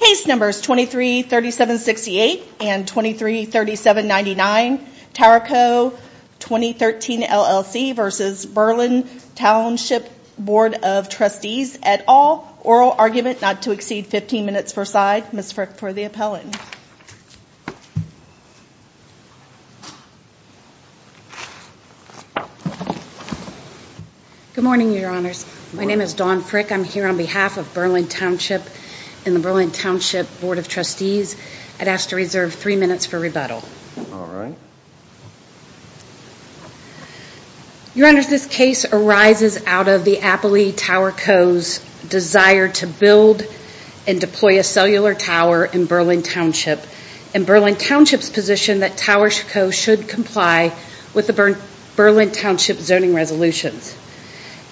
Case Numbers 233768 and 233799, Tarrico 2013 LLC v. Berlin Township Bd of Trustees, et al. Oral argument not to exceed 15 minutes per side. Ms. Frick for the appellant. Good morning, Your Honors. My name is Dawn Frick. I'm here on behalf of Berlin Township and the Berlin Township Board of Trustees. I'd ask to reserve three minutes for rebuttal. Your Honors, this case arises out of the Appellee Tarrico's desire to build and deploy a cellular tower in Berlin Township, and Berlin Township's position that Tarrico should comply with the Berlin Township zoning resolutions.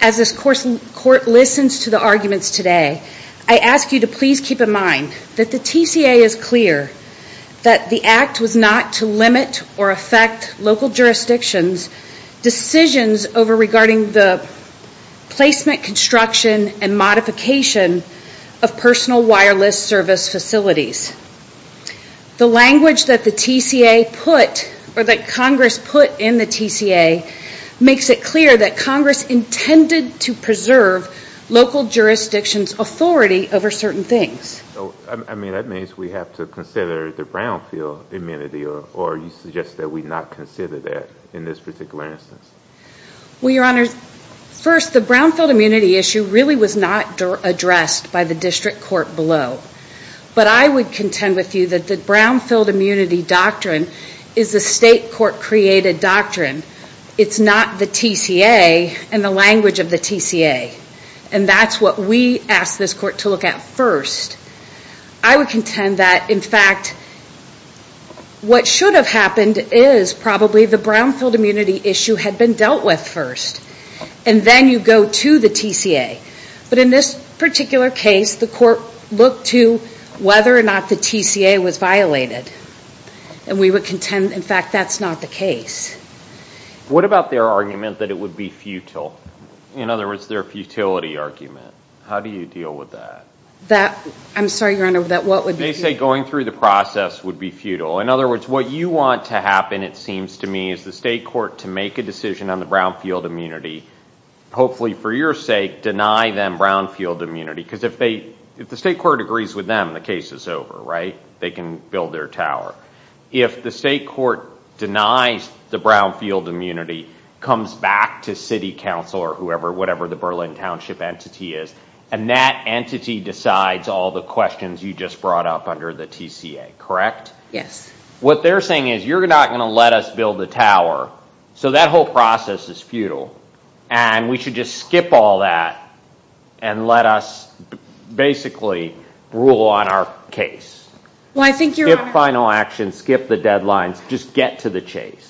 As this Court listens to the arguments today, I ask you to please keep in mind that the TCA is clear that the Act was not to limit or affect local jurisdictions' decisions over regarding the placement, construction, and modification of personal wireless service facilities. The language that Congress put in the TCA makes it clear that Congress intended to preserve local jurisdictions' authority over certain things. That means we have to consider the brownfield immunity, or you suggest that we not consider that in this particular instance? Well, Your Honors, first, the brownfield immunity issue really was not addressed by the District Court below, but I would contend with you that the brownfield immunity doctrine is a State Court-created doctrine. It's not the TCA and the language of the TCA, and that's what we ask this Court to look at first. I would contend that, in fact, what should have happened is probably the brownfield immunity issue had been dealt with first, and then you go to the TCA. But in this particular case, the Court looked to whether or not the TCA was violated, and we would contend, in fact, that's not the case. What about their argument that it would be futile? In other words, their futility argument. How do you deal with that? I'm sorry, Your Honor, that what would be futile? They say going through the process would be futile. In other words, what you want to happen, it seems to me, is the State Court to make a decision on the brownfield immunity, hopefully for your sake, deny them brownfield immunity. Because if the State Court agrees with them, the case is over, right? They can build their tower. If the State Court denies the brownfield immunity, comes back to City Council or whoever, whatever the Berlin Township entity is, and that entity decides all the questions you just brought up under the TCA, correct? Yes. What they're saying is you're not going to let us build the tower, so that whole process is futile, and we should just skip all that and let us basically rule on our case. Skip final action, skip the deadlines, just get to the chase.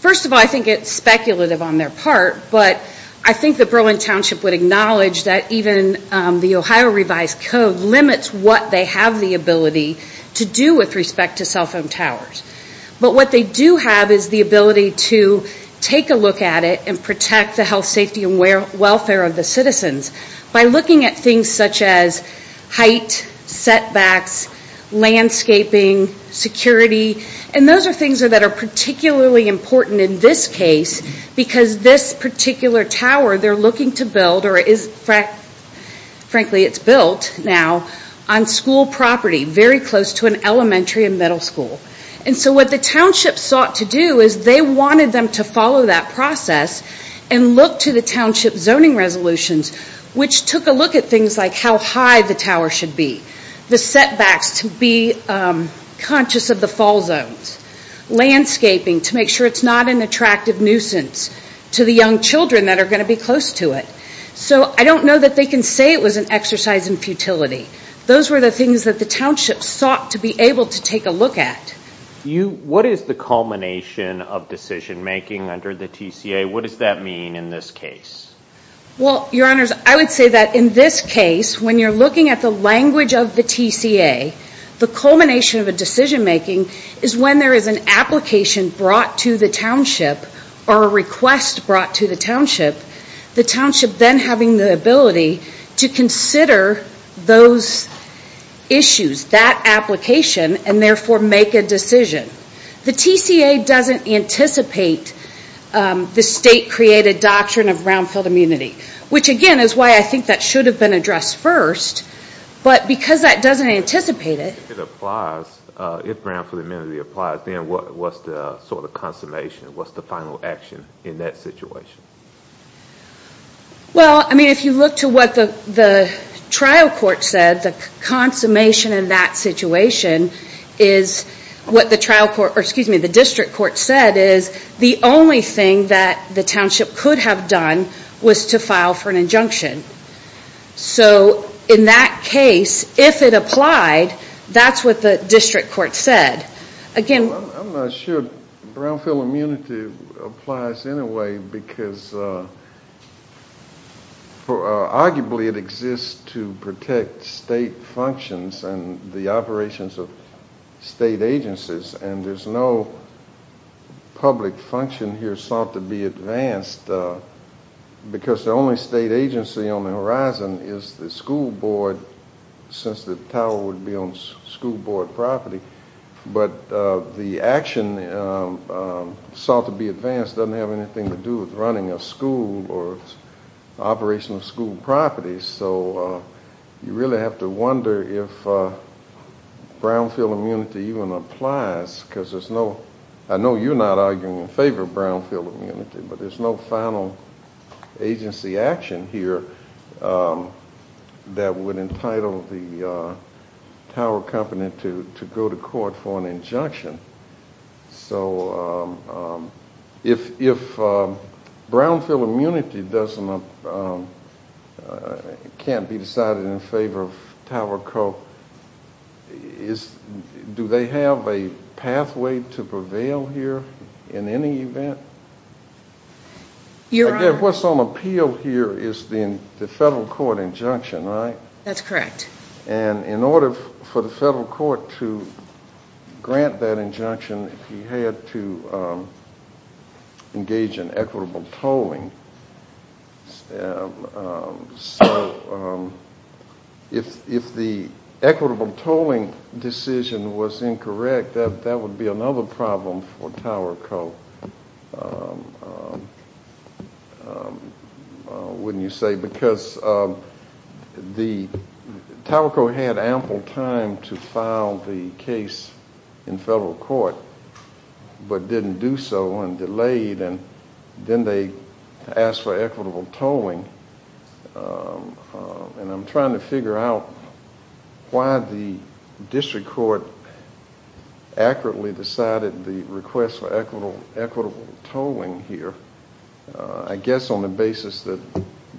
First of all, I think it's speculative on their part, but I think the Berlin Township would acknowledge that even the Ohio revised code limits what they have the ability to do with respect to cell phone towers. But what they do have is the ability to take a look at it and protect the health, safety, and welfare of the citizens by looking at things such as height, setbacks, landscaping, security, and those are things that are particularly important in this case, because this particular tower they're looking to build, or frankly it's built now, on school property, very close to an elementary and middle school. And so what the township sought to do is they wanted them to follow that process and look to the township zoning resolutions, which took a look at things like how high the tower should be, the setbacks to be conscious of the fall zones, landscaping to make sure it's not an attractive nuisance to the young children that are going to be close to it. So I don't know that they can say it was an exercise in futility. Those were the things that the township sought to be able to take a look at. What is the culmination of decision making under the TCA? What does that mean in this case? Well, Your Honors, I would say that in this case, when you're looking at the language of the TCA, the culmination of a decision making is when there is an application brought to the township or a request brought to the township, the township then having the ability to consider those issues, that application, and therefore make a decision. The TCA doesn't anticipate the state-created doctrine of brownfield immunity, which again is why I think that should have been addressed first. But because that doesn't anticipate it... If brownfield immunity applies, then what's the sort of consummation? What's the final action in that situation? Well, I mean, if you look to what the trial court said, the consummation in that situation is what the district court said is the only thing that the township could have done was to file for an injunction. So in that case, if it applied, that's what the district court said. I'm not sure brownfield immunity applies in a way because arguably it exists to protect state functions and the operations of state agencies, and there's no public function here sought to be advanced because the only state agency on the horizon is the school board, since the tower would be on school board property. But the action sought to be advanced doesn't have anything to do with running a school or operation of school properties. So you really have to wonder if brownfield immunity even applies because there's no... I know you're not arguing in favor of brownfield immunity, but there's no final agency action here that would entitle the tower company to go to court for an injunction. So if brownfield immunity can't be decided in favor of Tower Co., do they have a pathway to prevail here in any event? What's on appeal here is the federal court injunction, right? That's correct. And in order for the federal court to grant that injunction, he had to engage in equitable tolling. So if the equitable tolling decision was incorrect, that would be another problem for Tower Co., wouldn't you say? Because Tower Co. had ample time to file the case in federal court but didn't do so and delayed, and then they asked for equitable tolling. And I'm trying to figure out why the district court accurately decided the request for equitable tolling here. I guess on the basis that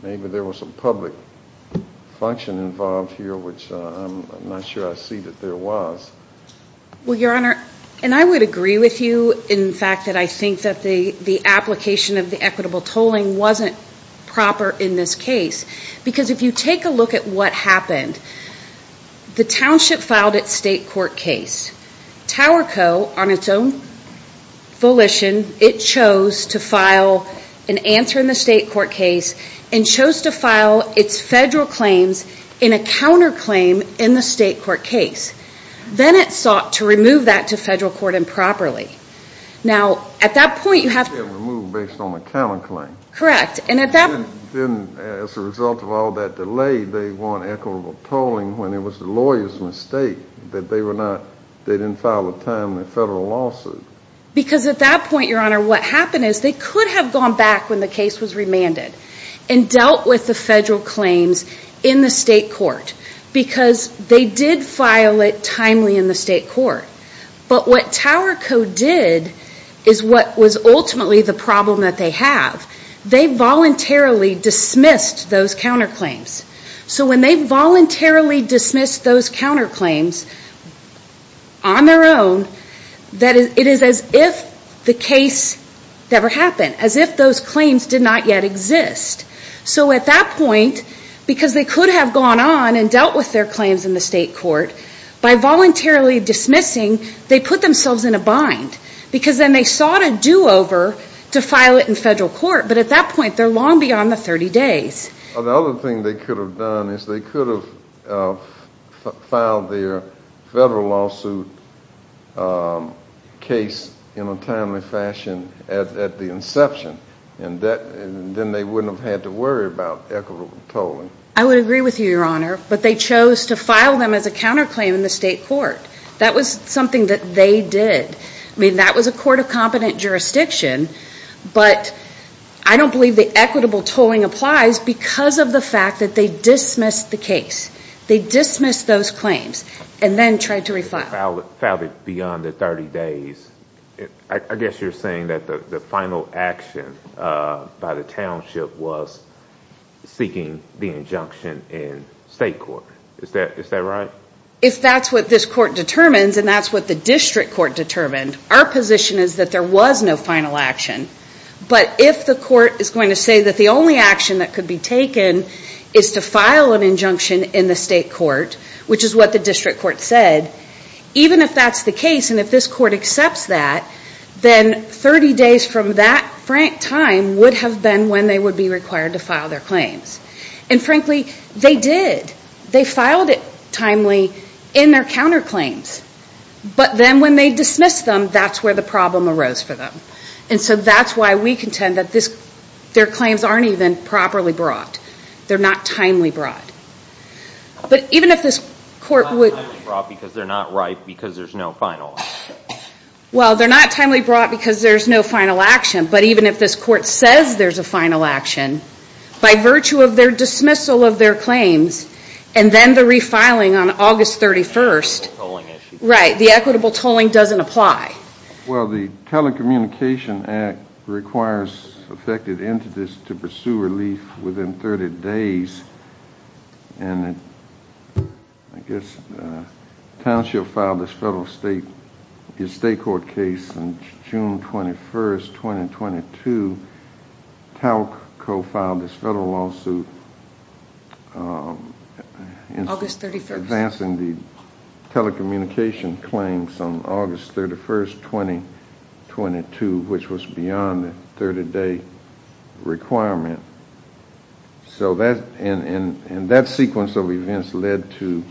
maybe there was some public function involved here, which I'm not sure I see that there was. Well, Your Honor, and I would agree with you in fact that I think that the application of the equitable tolling wasn't proper in this case because if you take a look at what happened, the township filed its state court case. Tower Co., on its own volition, it chose to file an answer in the state court case and chose to file its federal claims in a counterclaim in the state court case. Then it sought to remove that to federal court improperly. Now at that point you have to remove based on the counterclaim. And as a result of all that delay, they want equitable tolling when it was the lawyer's mistake that they didn't file a timely federal lawsuit. Because at that point, Your Honor, what happened is they could have gone back when the case was remanded and dealt with the federal claims in the state court because they did file it timely in the state court. But what Tower Co. did is what was ultimately the problem that they have. They voluntarily dismissed those counterclaims. So when they voluntarily dismissed those counterclaims on their own, it is as if the case never happened, as if those claims did not yet exist. So at that point, because they could have gone on and dealt with their claims in the state court, by voluntarily dismissing, they put themselves in a bind. Because then they sought a do-over to file it in federal court. But at that point, they're long beyond the 30 days. The other thing they could have done is they could have filed their federal lawsuit case in a timely fashion at the inception. And then they wouldn't have had to worry about equitable tolling. I would agree with you, Your Honor. But they chose to file them as a counterclaim in the state court. That was something that they did. I mean, that was a court of competent jurisdiction. But I don't believe the equitable tolling applies because of the fact that they dismissed the case. They dismissed those claims and then tried to refile it. Filed it beyond the 30 days. I guess you're saying that the final action by the township was seeking the injunction in state court. Is that right? If that's what this court determines, and that's what the district court determined, our position is that there was no final action. But if the court is going to say that the only action that could be taken is to file an injunction in the state court, which is what the district court said, even if that's the case and if this court accepts that, then 30 days from that time would have been when they would be required to file their claims. And frankly, they did. They filed it timely in their counterclaims. But then when they dismissed them, that's where the problem arose for them. And so that's why we contend that their claims aren't even properly brought. They're not timely brought. They're not timely brought because they're not right because there's no final action. Well, they're not timely brought because there's no final action. But even if this court says there's a final action, by virtue of their dismissal of their claims and then the refiling on August 31st, right, the equitable tolling doesn't apply. Well, the Telecommunication Act requires affected entities to pursue relief within 30 days. And I guess Township filed this federal state court case on June 21st, 2022. Talc co-filed this federal lawsuit advancing the telecommunication claims on August 31st, 2022, which was beyond the 30-day requirement. And that sequence of events led to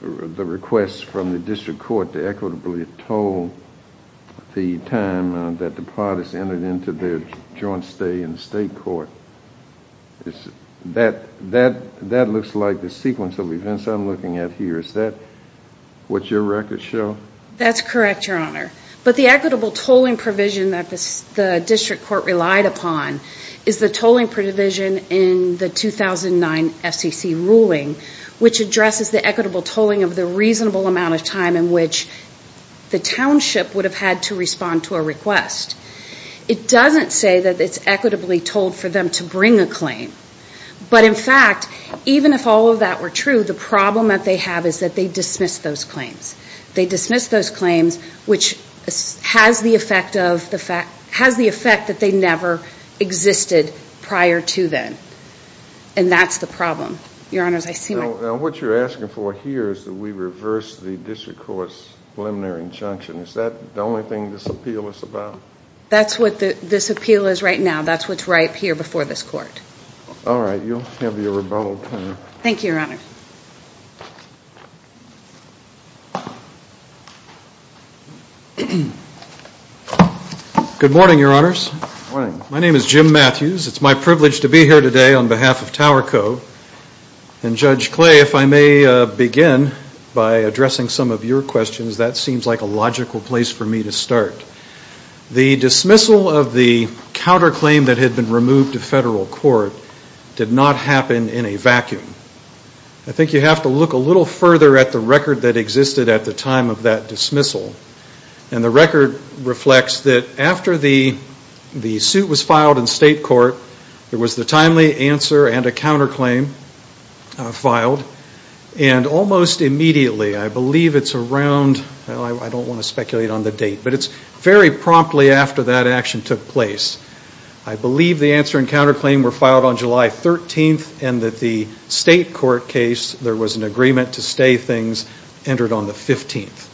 the request from the district court to equitably toll the time that the parties entered into their joint stay in the state court. That looks like the sequence of events I'm looking at here. Is that what your records show? That's correct, Your Honor. But the equitable tolling provision that the district court relied upon is the tolling provision in the 2009 FCC ruling, which addresses the equitable tolling of the reasonable amount of time in which the Township would have had to respond to a request. It doesn't say that it's equitably tolled for them to bring a claim. But in fact, even if all of that were true, the problem that they have is that they dismiss those claims. They dismiss those claims, which has the effect that they never existed prior to then. And that's the problem. Now, what you're asking for here is that we reverse the district court's preliminary injunction. Is that the only thing this appeal is about? That's what this appeal is right now. That's what's right here before this court. All right. You'll have your rebuttal time. Thank you, Your Honor. Good morning, Your Honors. Good morning. My name is Jim Matthews. It's my privilege to be here today on behalf of Tower Co. And Judge Clay, if I may begin by addressing some of your questions, that seems like a logical place for me to start. The dismissal of the counterclaim that had been removed to federal court did not happen in a vacuum. I think you have to look a little further at the record that existed at the time of that dismissal. And the record reflects that after the suit was filed in state court, there was the timely answer and a counterclaim filed. And almost immediately, I believe it's around, I don't want to speculate on the date, but it's very promptly after that action took place, I believe the answer and counterclaim were filed on July 13th and that the state court case, there was an agreement to stay things, entered on the 15th.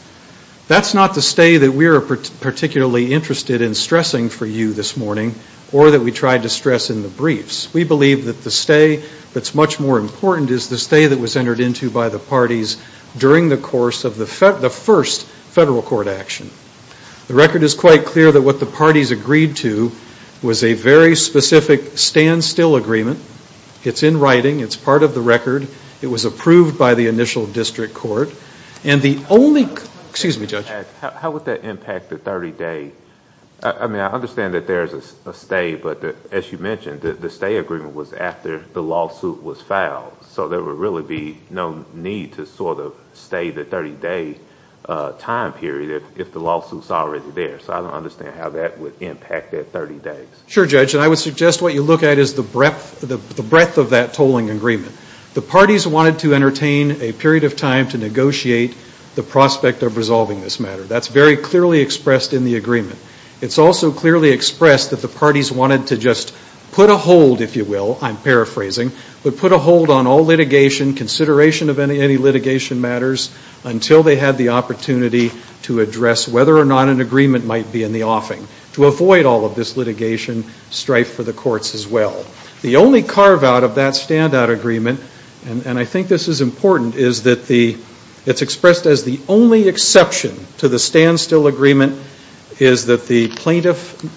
That's not the stay that we are particularly interested in stressing for you this morning or that we tried to stress in the briefs. We believe that the stay that's much more important is the stay that was entered into by the parties during the course of the first federal court action. The record is quite clear that what the parties agreed to was a very specific standstill agreement. It's in writing. It's part of the record. It was approved by the initial district court. Excuse me, Judge. How would that impact the 30-day? I mean, I understand that there is a stay, but as you mentioned, the stay agreement was after the lawsuit was filed. So there would really be no need to sort of stay the 30-day time period if the lawsuit is already there. So I don't understand how that would impact that 30 days. Sure, Judge. And I would suggest what you look at is the breadth of that tolling agreement. The parties wanted to entertain a period of time to negotiate the prospect of resolving this matter. That's very clearly expressed in the agreement. It's also clearly expressed that the parties wanted to just put a hold, if you will, I'm paraphrasing, but put a hold on all litigation, consideration of any litigation matters, until they had the opportunity to address whether or not an agreement might be in the offing to avoid all of this litigation strife for the courts as well. The only carve-out of that standout agreement, and I think this is important, is that it's expressed as the only exception to the standstill agreement is that the plaintiff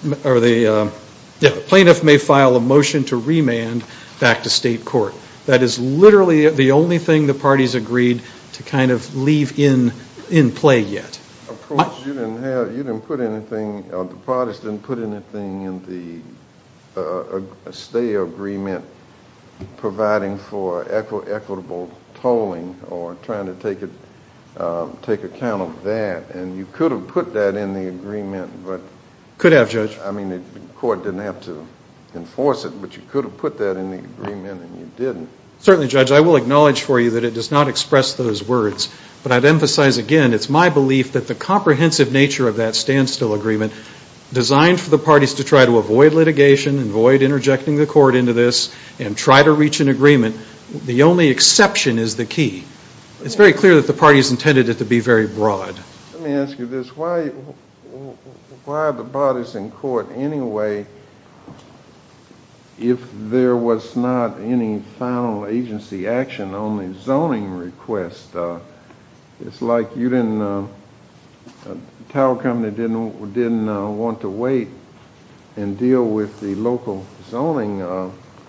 may file a motion to remand back to state court. That is literally the only thing the parties agreed to kind of leave in play yet. You didn't put anything, the parties didn't put anything in the stay agreement providing for equitable tolling or trying to take account of that. And you could have put that in the agreement. Could have, Judge. I mean, the court didn't have to enforce it, but you could have put that in the agreement and you didn't. Certainly, Judge. I will acknowledge for you that it does not express those words. But I'd emphasize again it's my belief that the comprehensive nature of that standstill agreement designed for the parties to try to avoid litigation, avoid interjecting the court into this, and try to reach an agreement, the only exception is the key. It's very clear that the parties intended it to be very broad. Let me ask you this. Why are the bodies in court anyway if there was not any final agency action on the zoning request? It's like you didn't, Tower Company didn't want to wait and deal with the local zoning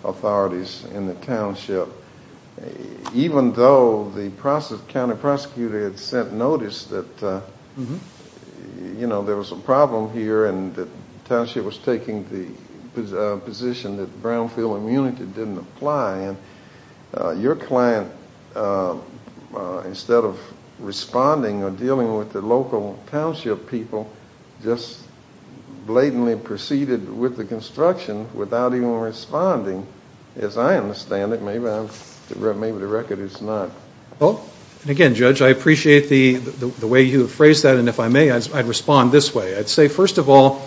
authorities in the township. Even though the county prosecutor had sent notice that there was a problem here and the township was taking the position that brownfield immunity didn't apply, and your client, instead of responding or dealing with the local township people, just blatantly proceeded with the construction without even responding. As I understand it, maybe the record is not. Again, Judge, I appreciate the way you have phrased that, and if I may, I'd respond this way. I'd say, first of all,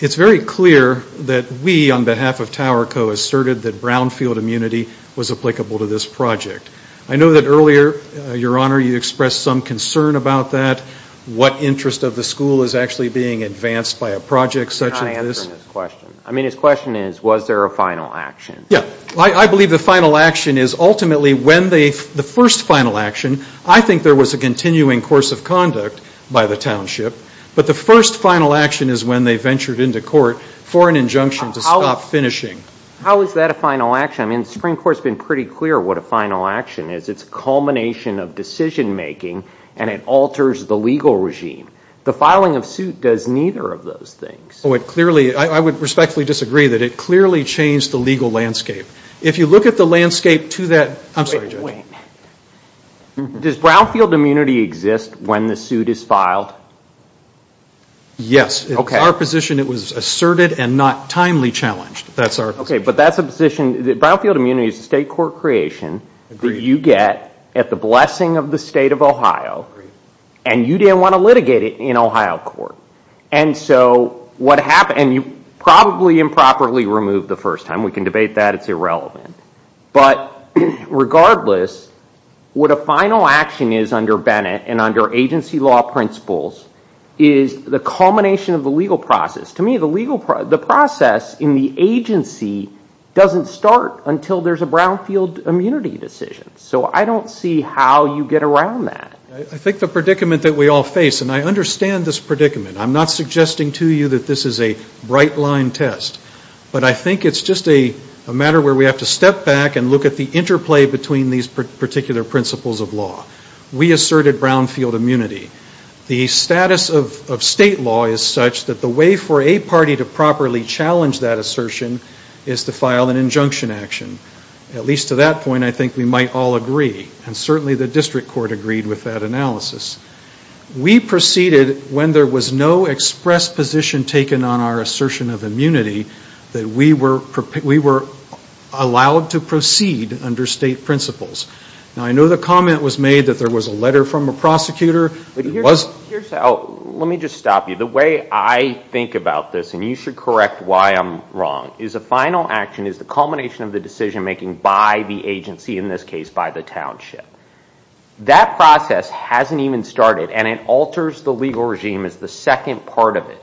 it's very clear that we, on behalf of Tower Co., asserted that brownfield immunity was applicable to this project. I know that earlier, Your Honor, you expressed some concern about that. What interest of the school is actually being advanced by a project such as this? I mean, his question is, was there a final action? Yeah. I believe the final action is ultimately when they, the first final action, I think there was a continuing course of conduct by the township, but the first final action is when they ventured into court for an injunction to stop finishing. How is that a final action? I mean, the Supreme Court has been pretty clear what a final action is. It's a culmination of decision making, and it alters the legal regime. The filing of suit does neither of those things. Oh, it clearly, I would respectfully disagree that it clearly changed the legal landscape. If you look at the landscape to that, I'm sorry, Judge. Wait. Does brownfield immunity exist when the suit is filed? Yes. Okay. It's our position it was asserted and not timely challenged. That's our position. Okay. But that's a position, brownfield immunity is a state court creation that you get at the blessing of the state of Ohio, and you didn't want to litigate it in Ohio court. And so what happened, and you probably improperly removed the first time. We can debate that. It's irrelevant. But regardless, what a final action is under Bennett and under agency law principles is the culmination of the legal process. To me, the process in the agency doesn't start until there's a brownfield immunity decision. So I don't see how you get around that. I think the predicament that we all face, and I understand this predicament. I'm not suggesting to you that this is a bright line test. But I think it's just a matter where we have to step back and look at the interplay between these particular principles of law. We asserted brownfield immunity. The status of state law is such that the way for a party to properly challenge that assertion is to file an injunction action. At least to that point, I think we might all agree. And certainly the district court agreed with that analysis. We proceeded when there was no express position taken on our assertion of immunity that we were allowed to proceed under state principles. Now, I know the comment was made that there was a letter from a prosecutor. It wasn't. Here's how. Let me just stop you. The way I think about this, and you should correct why I'm wrong, is a final action is the culmination of the decision making by the agency. In this case, by the township. That process hasn't even started, and it alters the legal regime as the second part of it.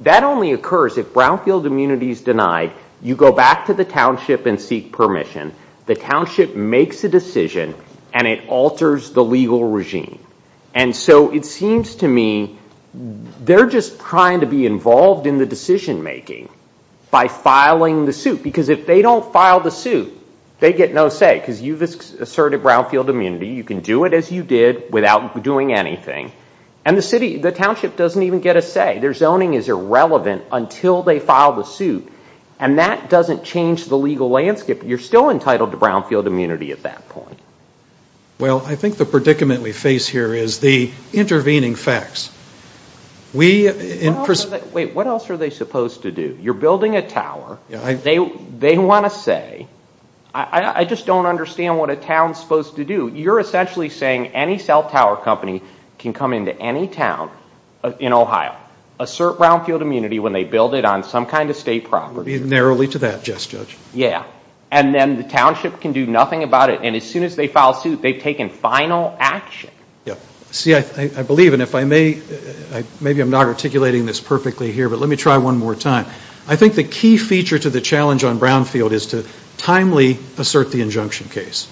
That only occurs if brownfield immunity is denied. You go back to the township and seek permission. The township makes a decision, and it alters the legal regime. And so it seems to me they're just trying to be involved in the decision making by filing the suit. Because if they don't file the suit, they get no say. Because you've asserted brownfield immunity. You can do it as you did without doing anything. And the township doesn't even get a say. Their zoning is irrelevant until they file the suit. And that doesn't change the legal landscape. You're still entitled to brownfield immunity at that point. Well, I think the predicament we face here is the intervening facts. Wait, what else are they supposed to do? You're building a tower. They want to say, I just don't understand what a town's supposed to do. You're essentially saying any cell tower company can come into any town in Ohio, assert brownfield immunity when they build it on some kind of state property. Narrowly to that, yes, Judge. Yeah. And then the township can do nothing about it. And as soon as they file a suit, they've taken final action. Yeah. See, I believe, and if I may, maybe I'm not articulating this perfectly here, but let me try one more time. I think the key feature to the challenge on brownfield is to timely assert the injunction case.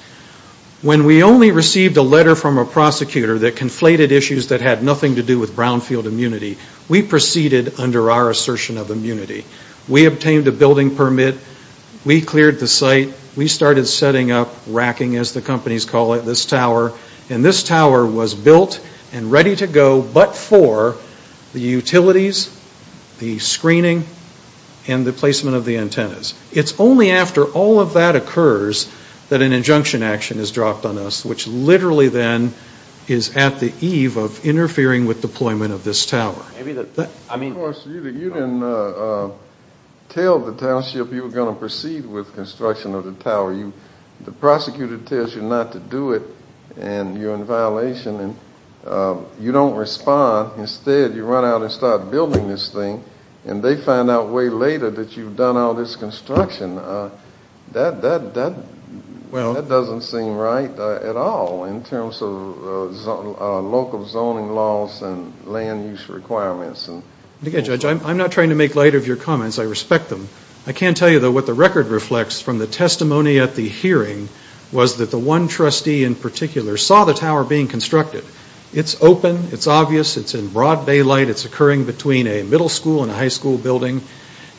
When we only received a letter from a prosecutor that conflated issues that had nothing to do with brownfield immunity, we proceeded under our assertion of immunity. We obtained a building permit. We cleared the site. We started setting up, racking as the companies call it, this tower. And this tower was built and ready to go but for the utilities, the screening, and the placement of the antennas. It's only after all of that occurs that an injunction action is dropped on us, which literally then is at the eve of interfering with deployment of this tower. Of course, you didn't tell the township you were going to proceed with construction of the tower. The prosecutor tells you not to do it and you're in violation and you don't respond. Instead, you run out and start building this thing and they find out way later that you've done all this construction. That doesn't seem right at all in terms of local zoning laws and land use requirements. I'm not trying to make light of your comments. I respect them. I can tell you, though, what the record reflects from the testimony at the hearing was that the one trustee in particular saw the tower being constructed. It's open. It's obvious. It's in broad daylight. It's occurring between a middle school and a high school building.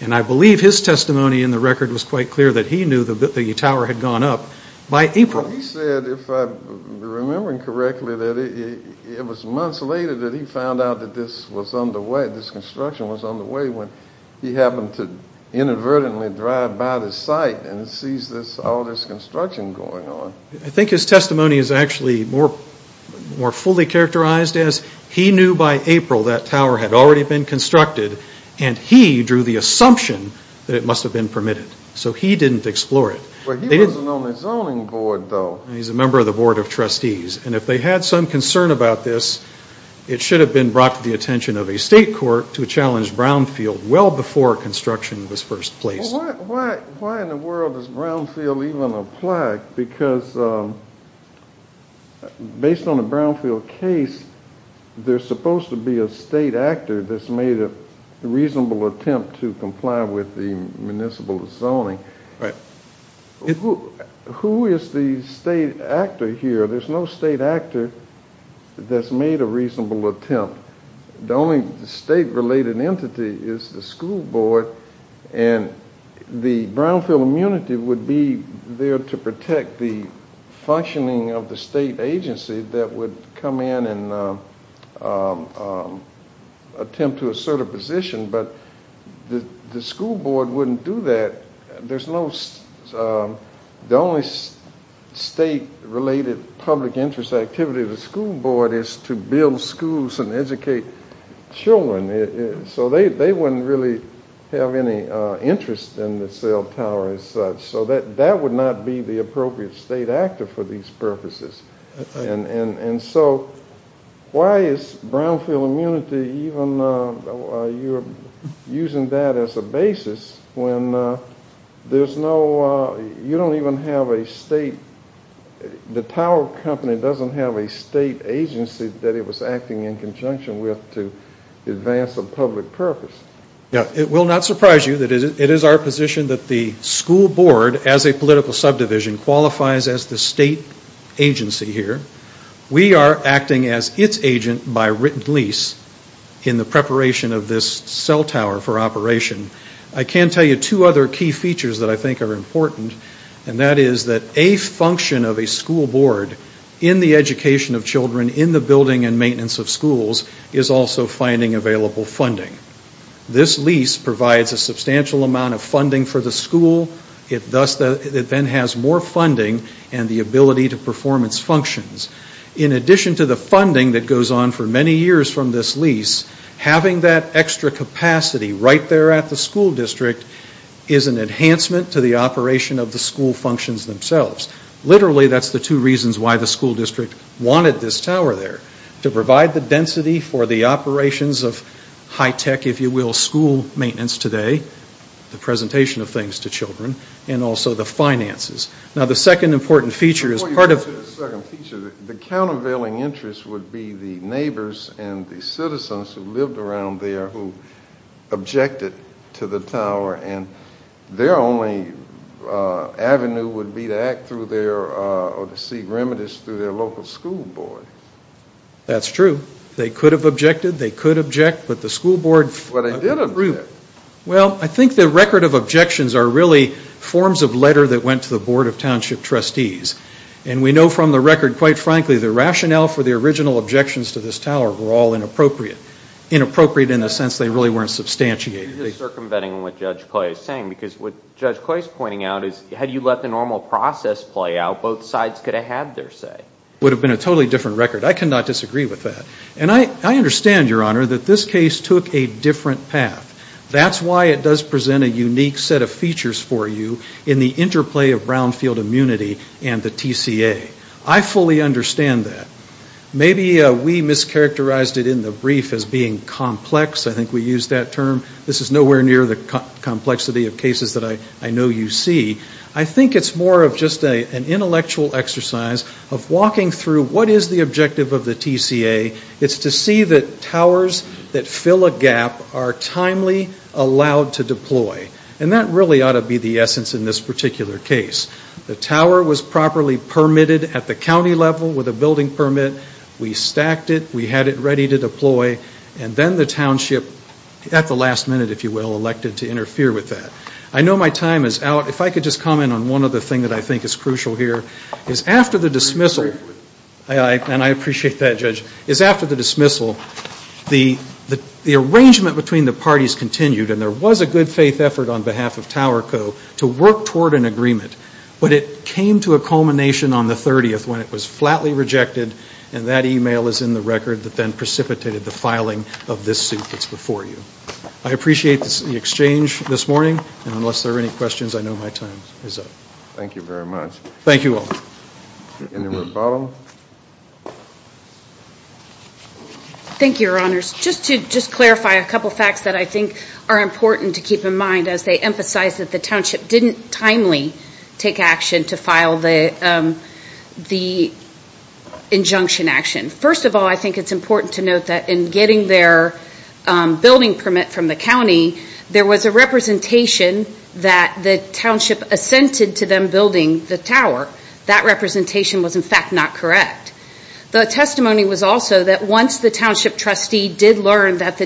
I believe his testimony in the record was quite clear that he knew that the tower had gone up by April. He said, if I'm remembering correctly, that it was months later that he found out that this construction was underway when he happened to inadvertently drive by the site and sees all this construction going on. I think his testimony is actually more fully characterized as he knew by April that tower had already been constructed and he drew the assumption that it must have been permitted. So he didn't explore it. He wasn't on the zoning board, though. He's a member of the board of trustees. And if they had some concern about this, it should have been brought to the attention of a state court to challenge Brownfield well before construction was first placed. Why in the world does Brownfield even apply? Because based on the Brownfield case, there's supposed to be a state actor that's made a reasonable attempt to comply with the municipal zoning. Who is the state actor here? There's no state actor that's made a reasonable attempt. The only state-related entity is the school board, and the Brownfield immunity would be there to protect the functioning of the state agency that would come in and attempt to assert a position, but the school board wouldn't do that. The only state-related public interest activity of the school board is to build schools and educate children. So they wouldn't really have any interest in the cell tower as such. So that would not be the appropriate state actor for these purposes. And so why is Brownfield immunity even, you're using that as a basis when there's no, you don't even have a state, the tower company doesn't have a state agency that it was acting in conjunction with to advance a public purpose. It will not surprise you that it is our position that the school board, as a political subdivision, qualifies as the state agency here. We are acting as its agent by written lease in the preparation of this cell tower for operation. I can tell you two other key features that I think are important, and that is that a function of a school board in the education of children in the building and maintenance of schools is also finding available funding. This lease provides a substantial amount of funding for the school. It then has more funding and the ability to perform its functions. In addition to the funding that goes on for many years from this lease, having that extra capacity right there at the school district is an enhancement to the operation of the school functions themselves. Literally, that's the two reasons why the school district wanted this tower there, to provide the density for the operations of high-tech, if you will, school maintenance today, the presentation of things to children, and also the finances. Now, the second important feature is part of... Before you go to the second feature, the countervailing interest would be the neighbors and the citizens who lived around there who objected to the tower, and their only avenue would be to act through their... or to seek remedies through their local school board. That's true. They could have objected, they could object, but the school board... Well, they did agree. Well, I think the record of objections are really forms of letter that went to the Board of Township Trustees. And we know from the record, quite frankly, the rationale for the original objections to this tower were all inappropriate. Inappropriate in the sense they really weren't substantiated. You're circumventing what Judge Coy is saying, because what Judge Coy is pointing out is, had you let the normal process play out, both sides could have had their say. It would have been a totally different record. I cannot disagree with that. And I understand, Your Honor, that this case took a different path. That's why it does present a unique set of features for you in the interplay of brownfield immunity and the TCA. I fully understand that. Maybe we mischaracterized it in the brief as being complex. I think we used that term. This is nowhere near the complexity of cases that I know you see. I think it's more of just an intellectual exercise of walking through what is the objective of the TCA. It's to see that towers that fill a gap are timely, allowed to deploy. And that really ought to be the essence in this particular case. The tower was properly permitted at the county level with a building permit. We stacked it. We had it ready to deploy. And then the township, at the last minute, if you will, elected to interfere with that. I know my time is out. If I could just comment on one other thing that I think is crucial here, is after the dismissal, and I appreciate that, Judge, is after the dismissal, the arrangement between the parties continued, and there was a good faith effort on behalf of Tower Co. to work toward an agreement. But it came to a culmination on the 30th when it was flatly rejected, and that e-mail is in the record that then precipitated the filing of this suit that's before you. I appreciate the exchange this morning. And unless there are any questions, I know my time is up. Thank you very much. Thank you all. Any more follow-up? Thank you, Your Honors. Just to clarify a couple of facts that I think are important to keep in mind as they emphasize that the township didn't timely take action to file the injunction action. First of all, I think it's important to note that in getting their building permit from the county, there was a representation that the township assented to them building the tower. That representation was, in fact, not correct. The testimony was also that once the township trustee did learn that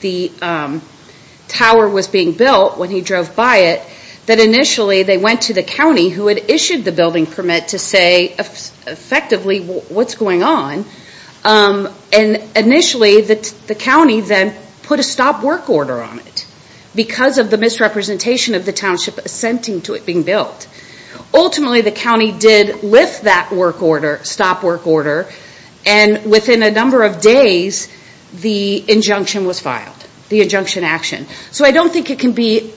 the tower was being built when he drove by it, that initially they went to the county who had issued the building permit to say effectively what's going on. And initially the county then put a stop work order on it because of the misrepresentation of the township assenting to it being built. Ultimately the county did lift that work order, stop work order, and within a number of days the injunction was filed, the injunction action. So I don't think it can be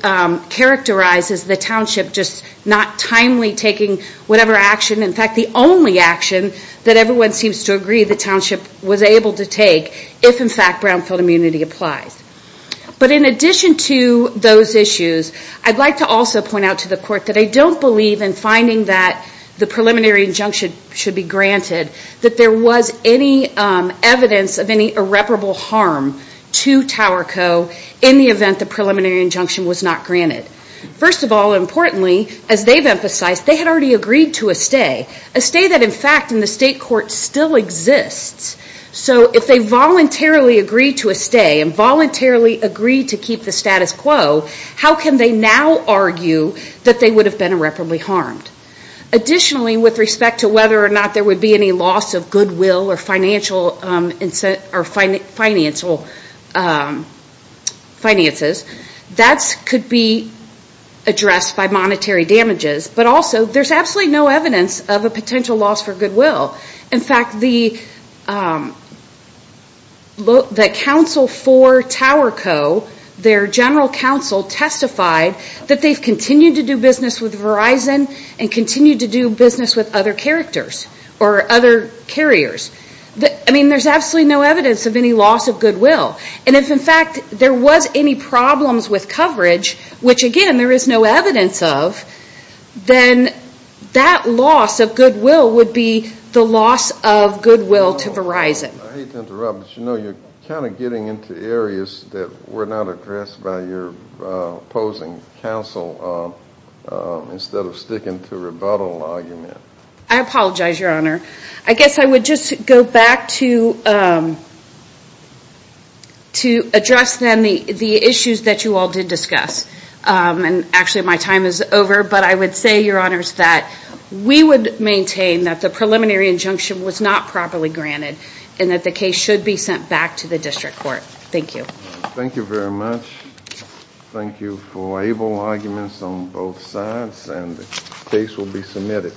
characterized as the township just not timely taking whatever action. In fact, the only action that everyone seems to agree the township was able to take, if in fact brownfield immunity applies. But in addition to those issues, I'd like to also point out to the court that I don't believe in finding that the preliminary injunction should be granted, that there was any evidence of any irreparable harm to Tower Co. in the event the preliminary injunction was not granted. First of all, importantly, as they've emphasized, they had already agreed to a stay. A stay that, in fact, in the state court still exists. So if they voluntarily agreed to a stay and voluntarily agreed to keep the status quo, how can they now argue that they would have been irreparably harmed? Additionally, with respect to whether or not there would be any loss of goodwill or financial finances, that could be addressed by monetary damages, but also there's absolutely no evidence of a potential loss for goodwill. In fact, the counsel for Tower Co., their general counsel, testified that they've continued to do business with Verizon and continued to do business with other characters or other carriers. I mean, there's absolutely no evidence of any loss of goodwill. And if, in fact, there was any problems with coverage, which, again, there is no evidence of, then that loss of goodwill would be the loss of goodwill to Verizon. I hate to interrupt, but you're kind of getting into areas that were not addressed by your opposing counsel instead of sticking to a rebuttal argument. I apologize, Your Honor. I guess I would just go back to address, then, the issues that you all did discuss. And actually, my time is over, but I would say, Your Honors, that we would maintain that the preliminary injunction was not properly granted and that the case should be sent back to the district court. Thank you. Thank you very much. Thank you for able arguments on both sides, and the case will be submitted.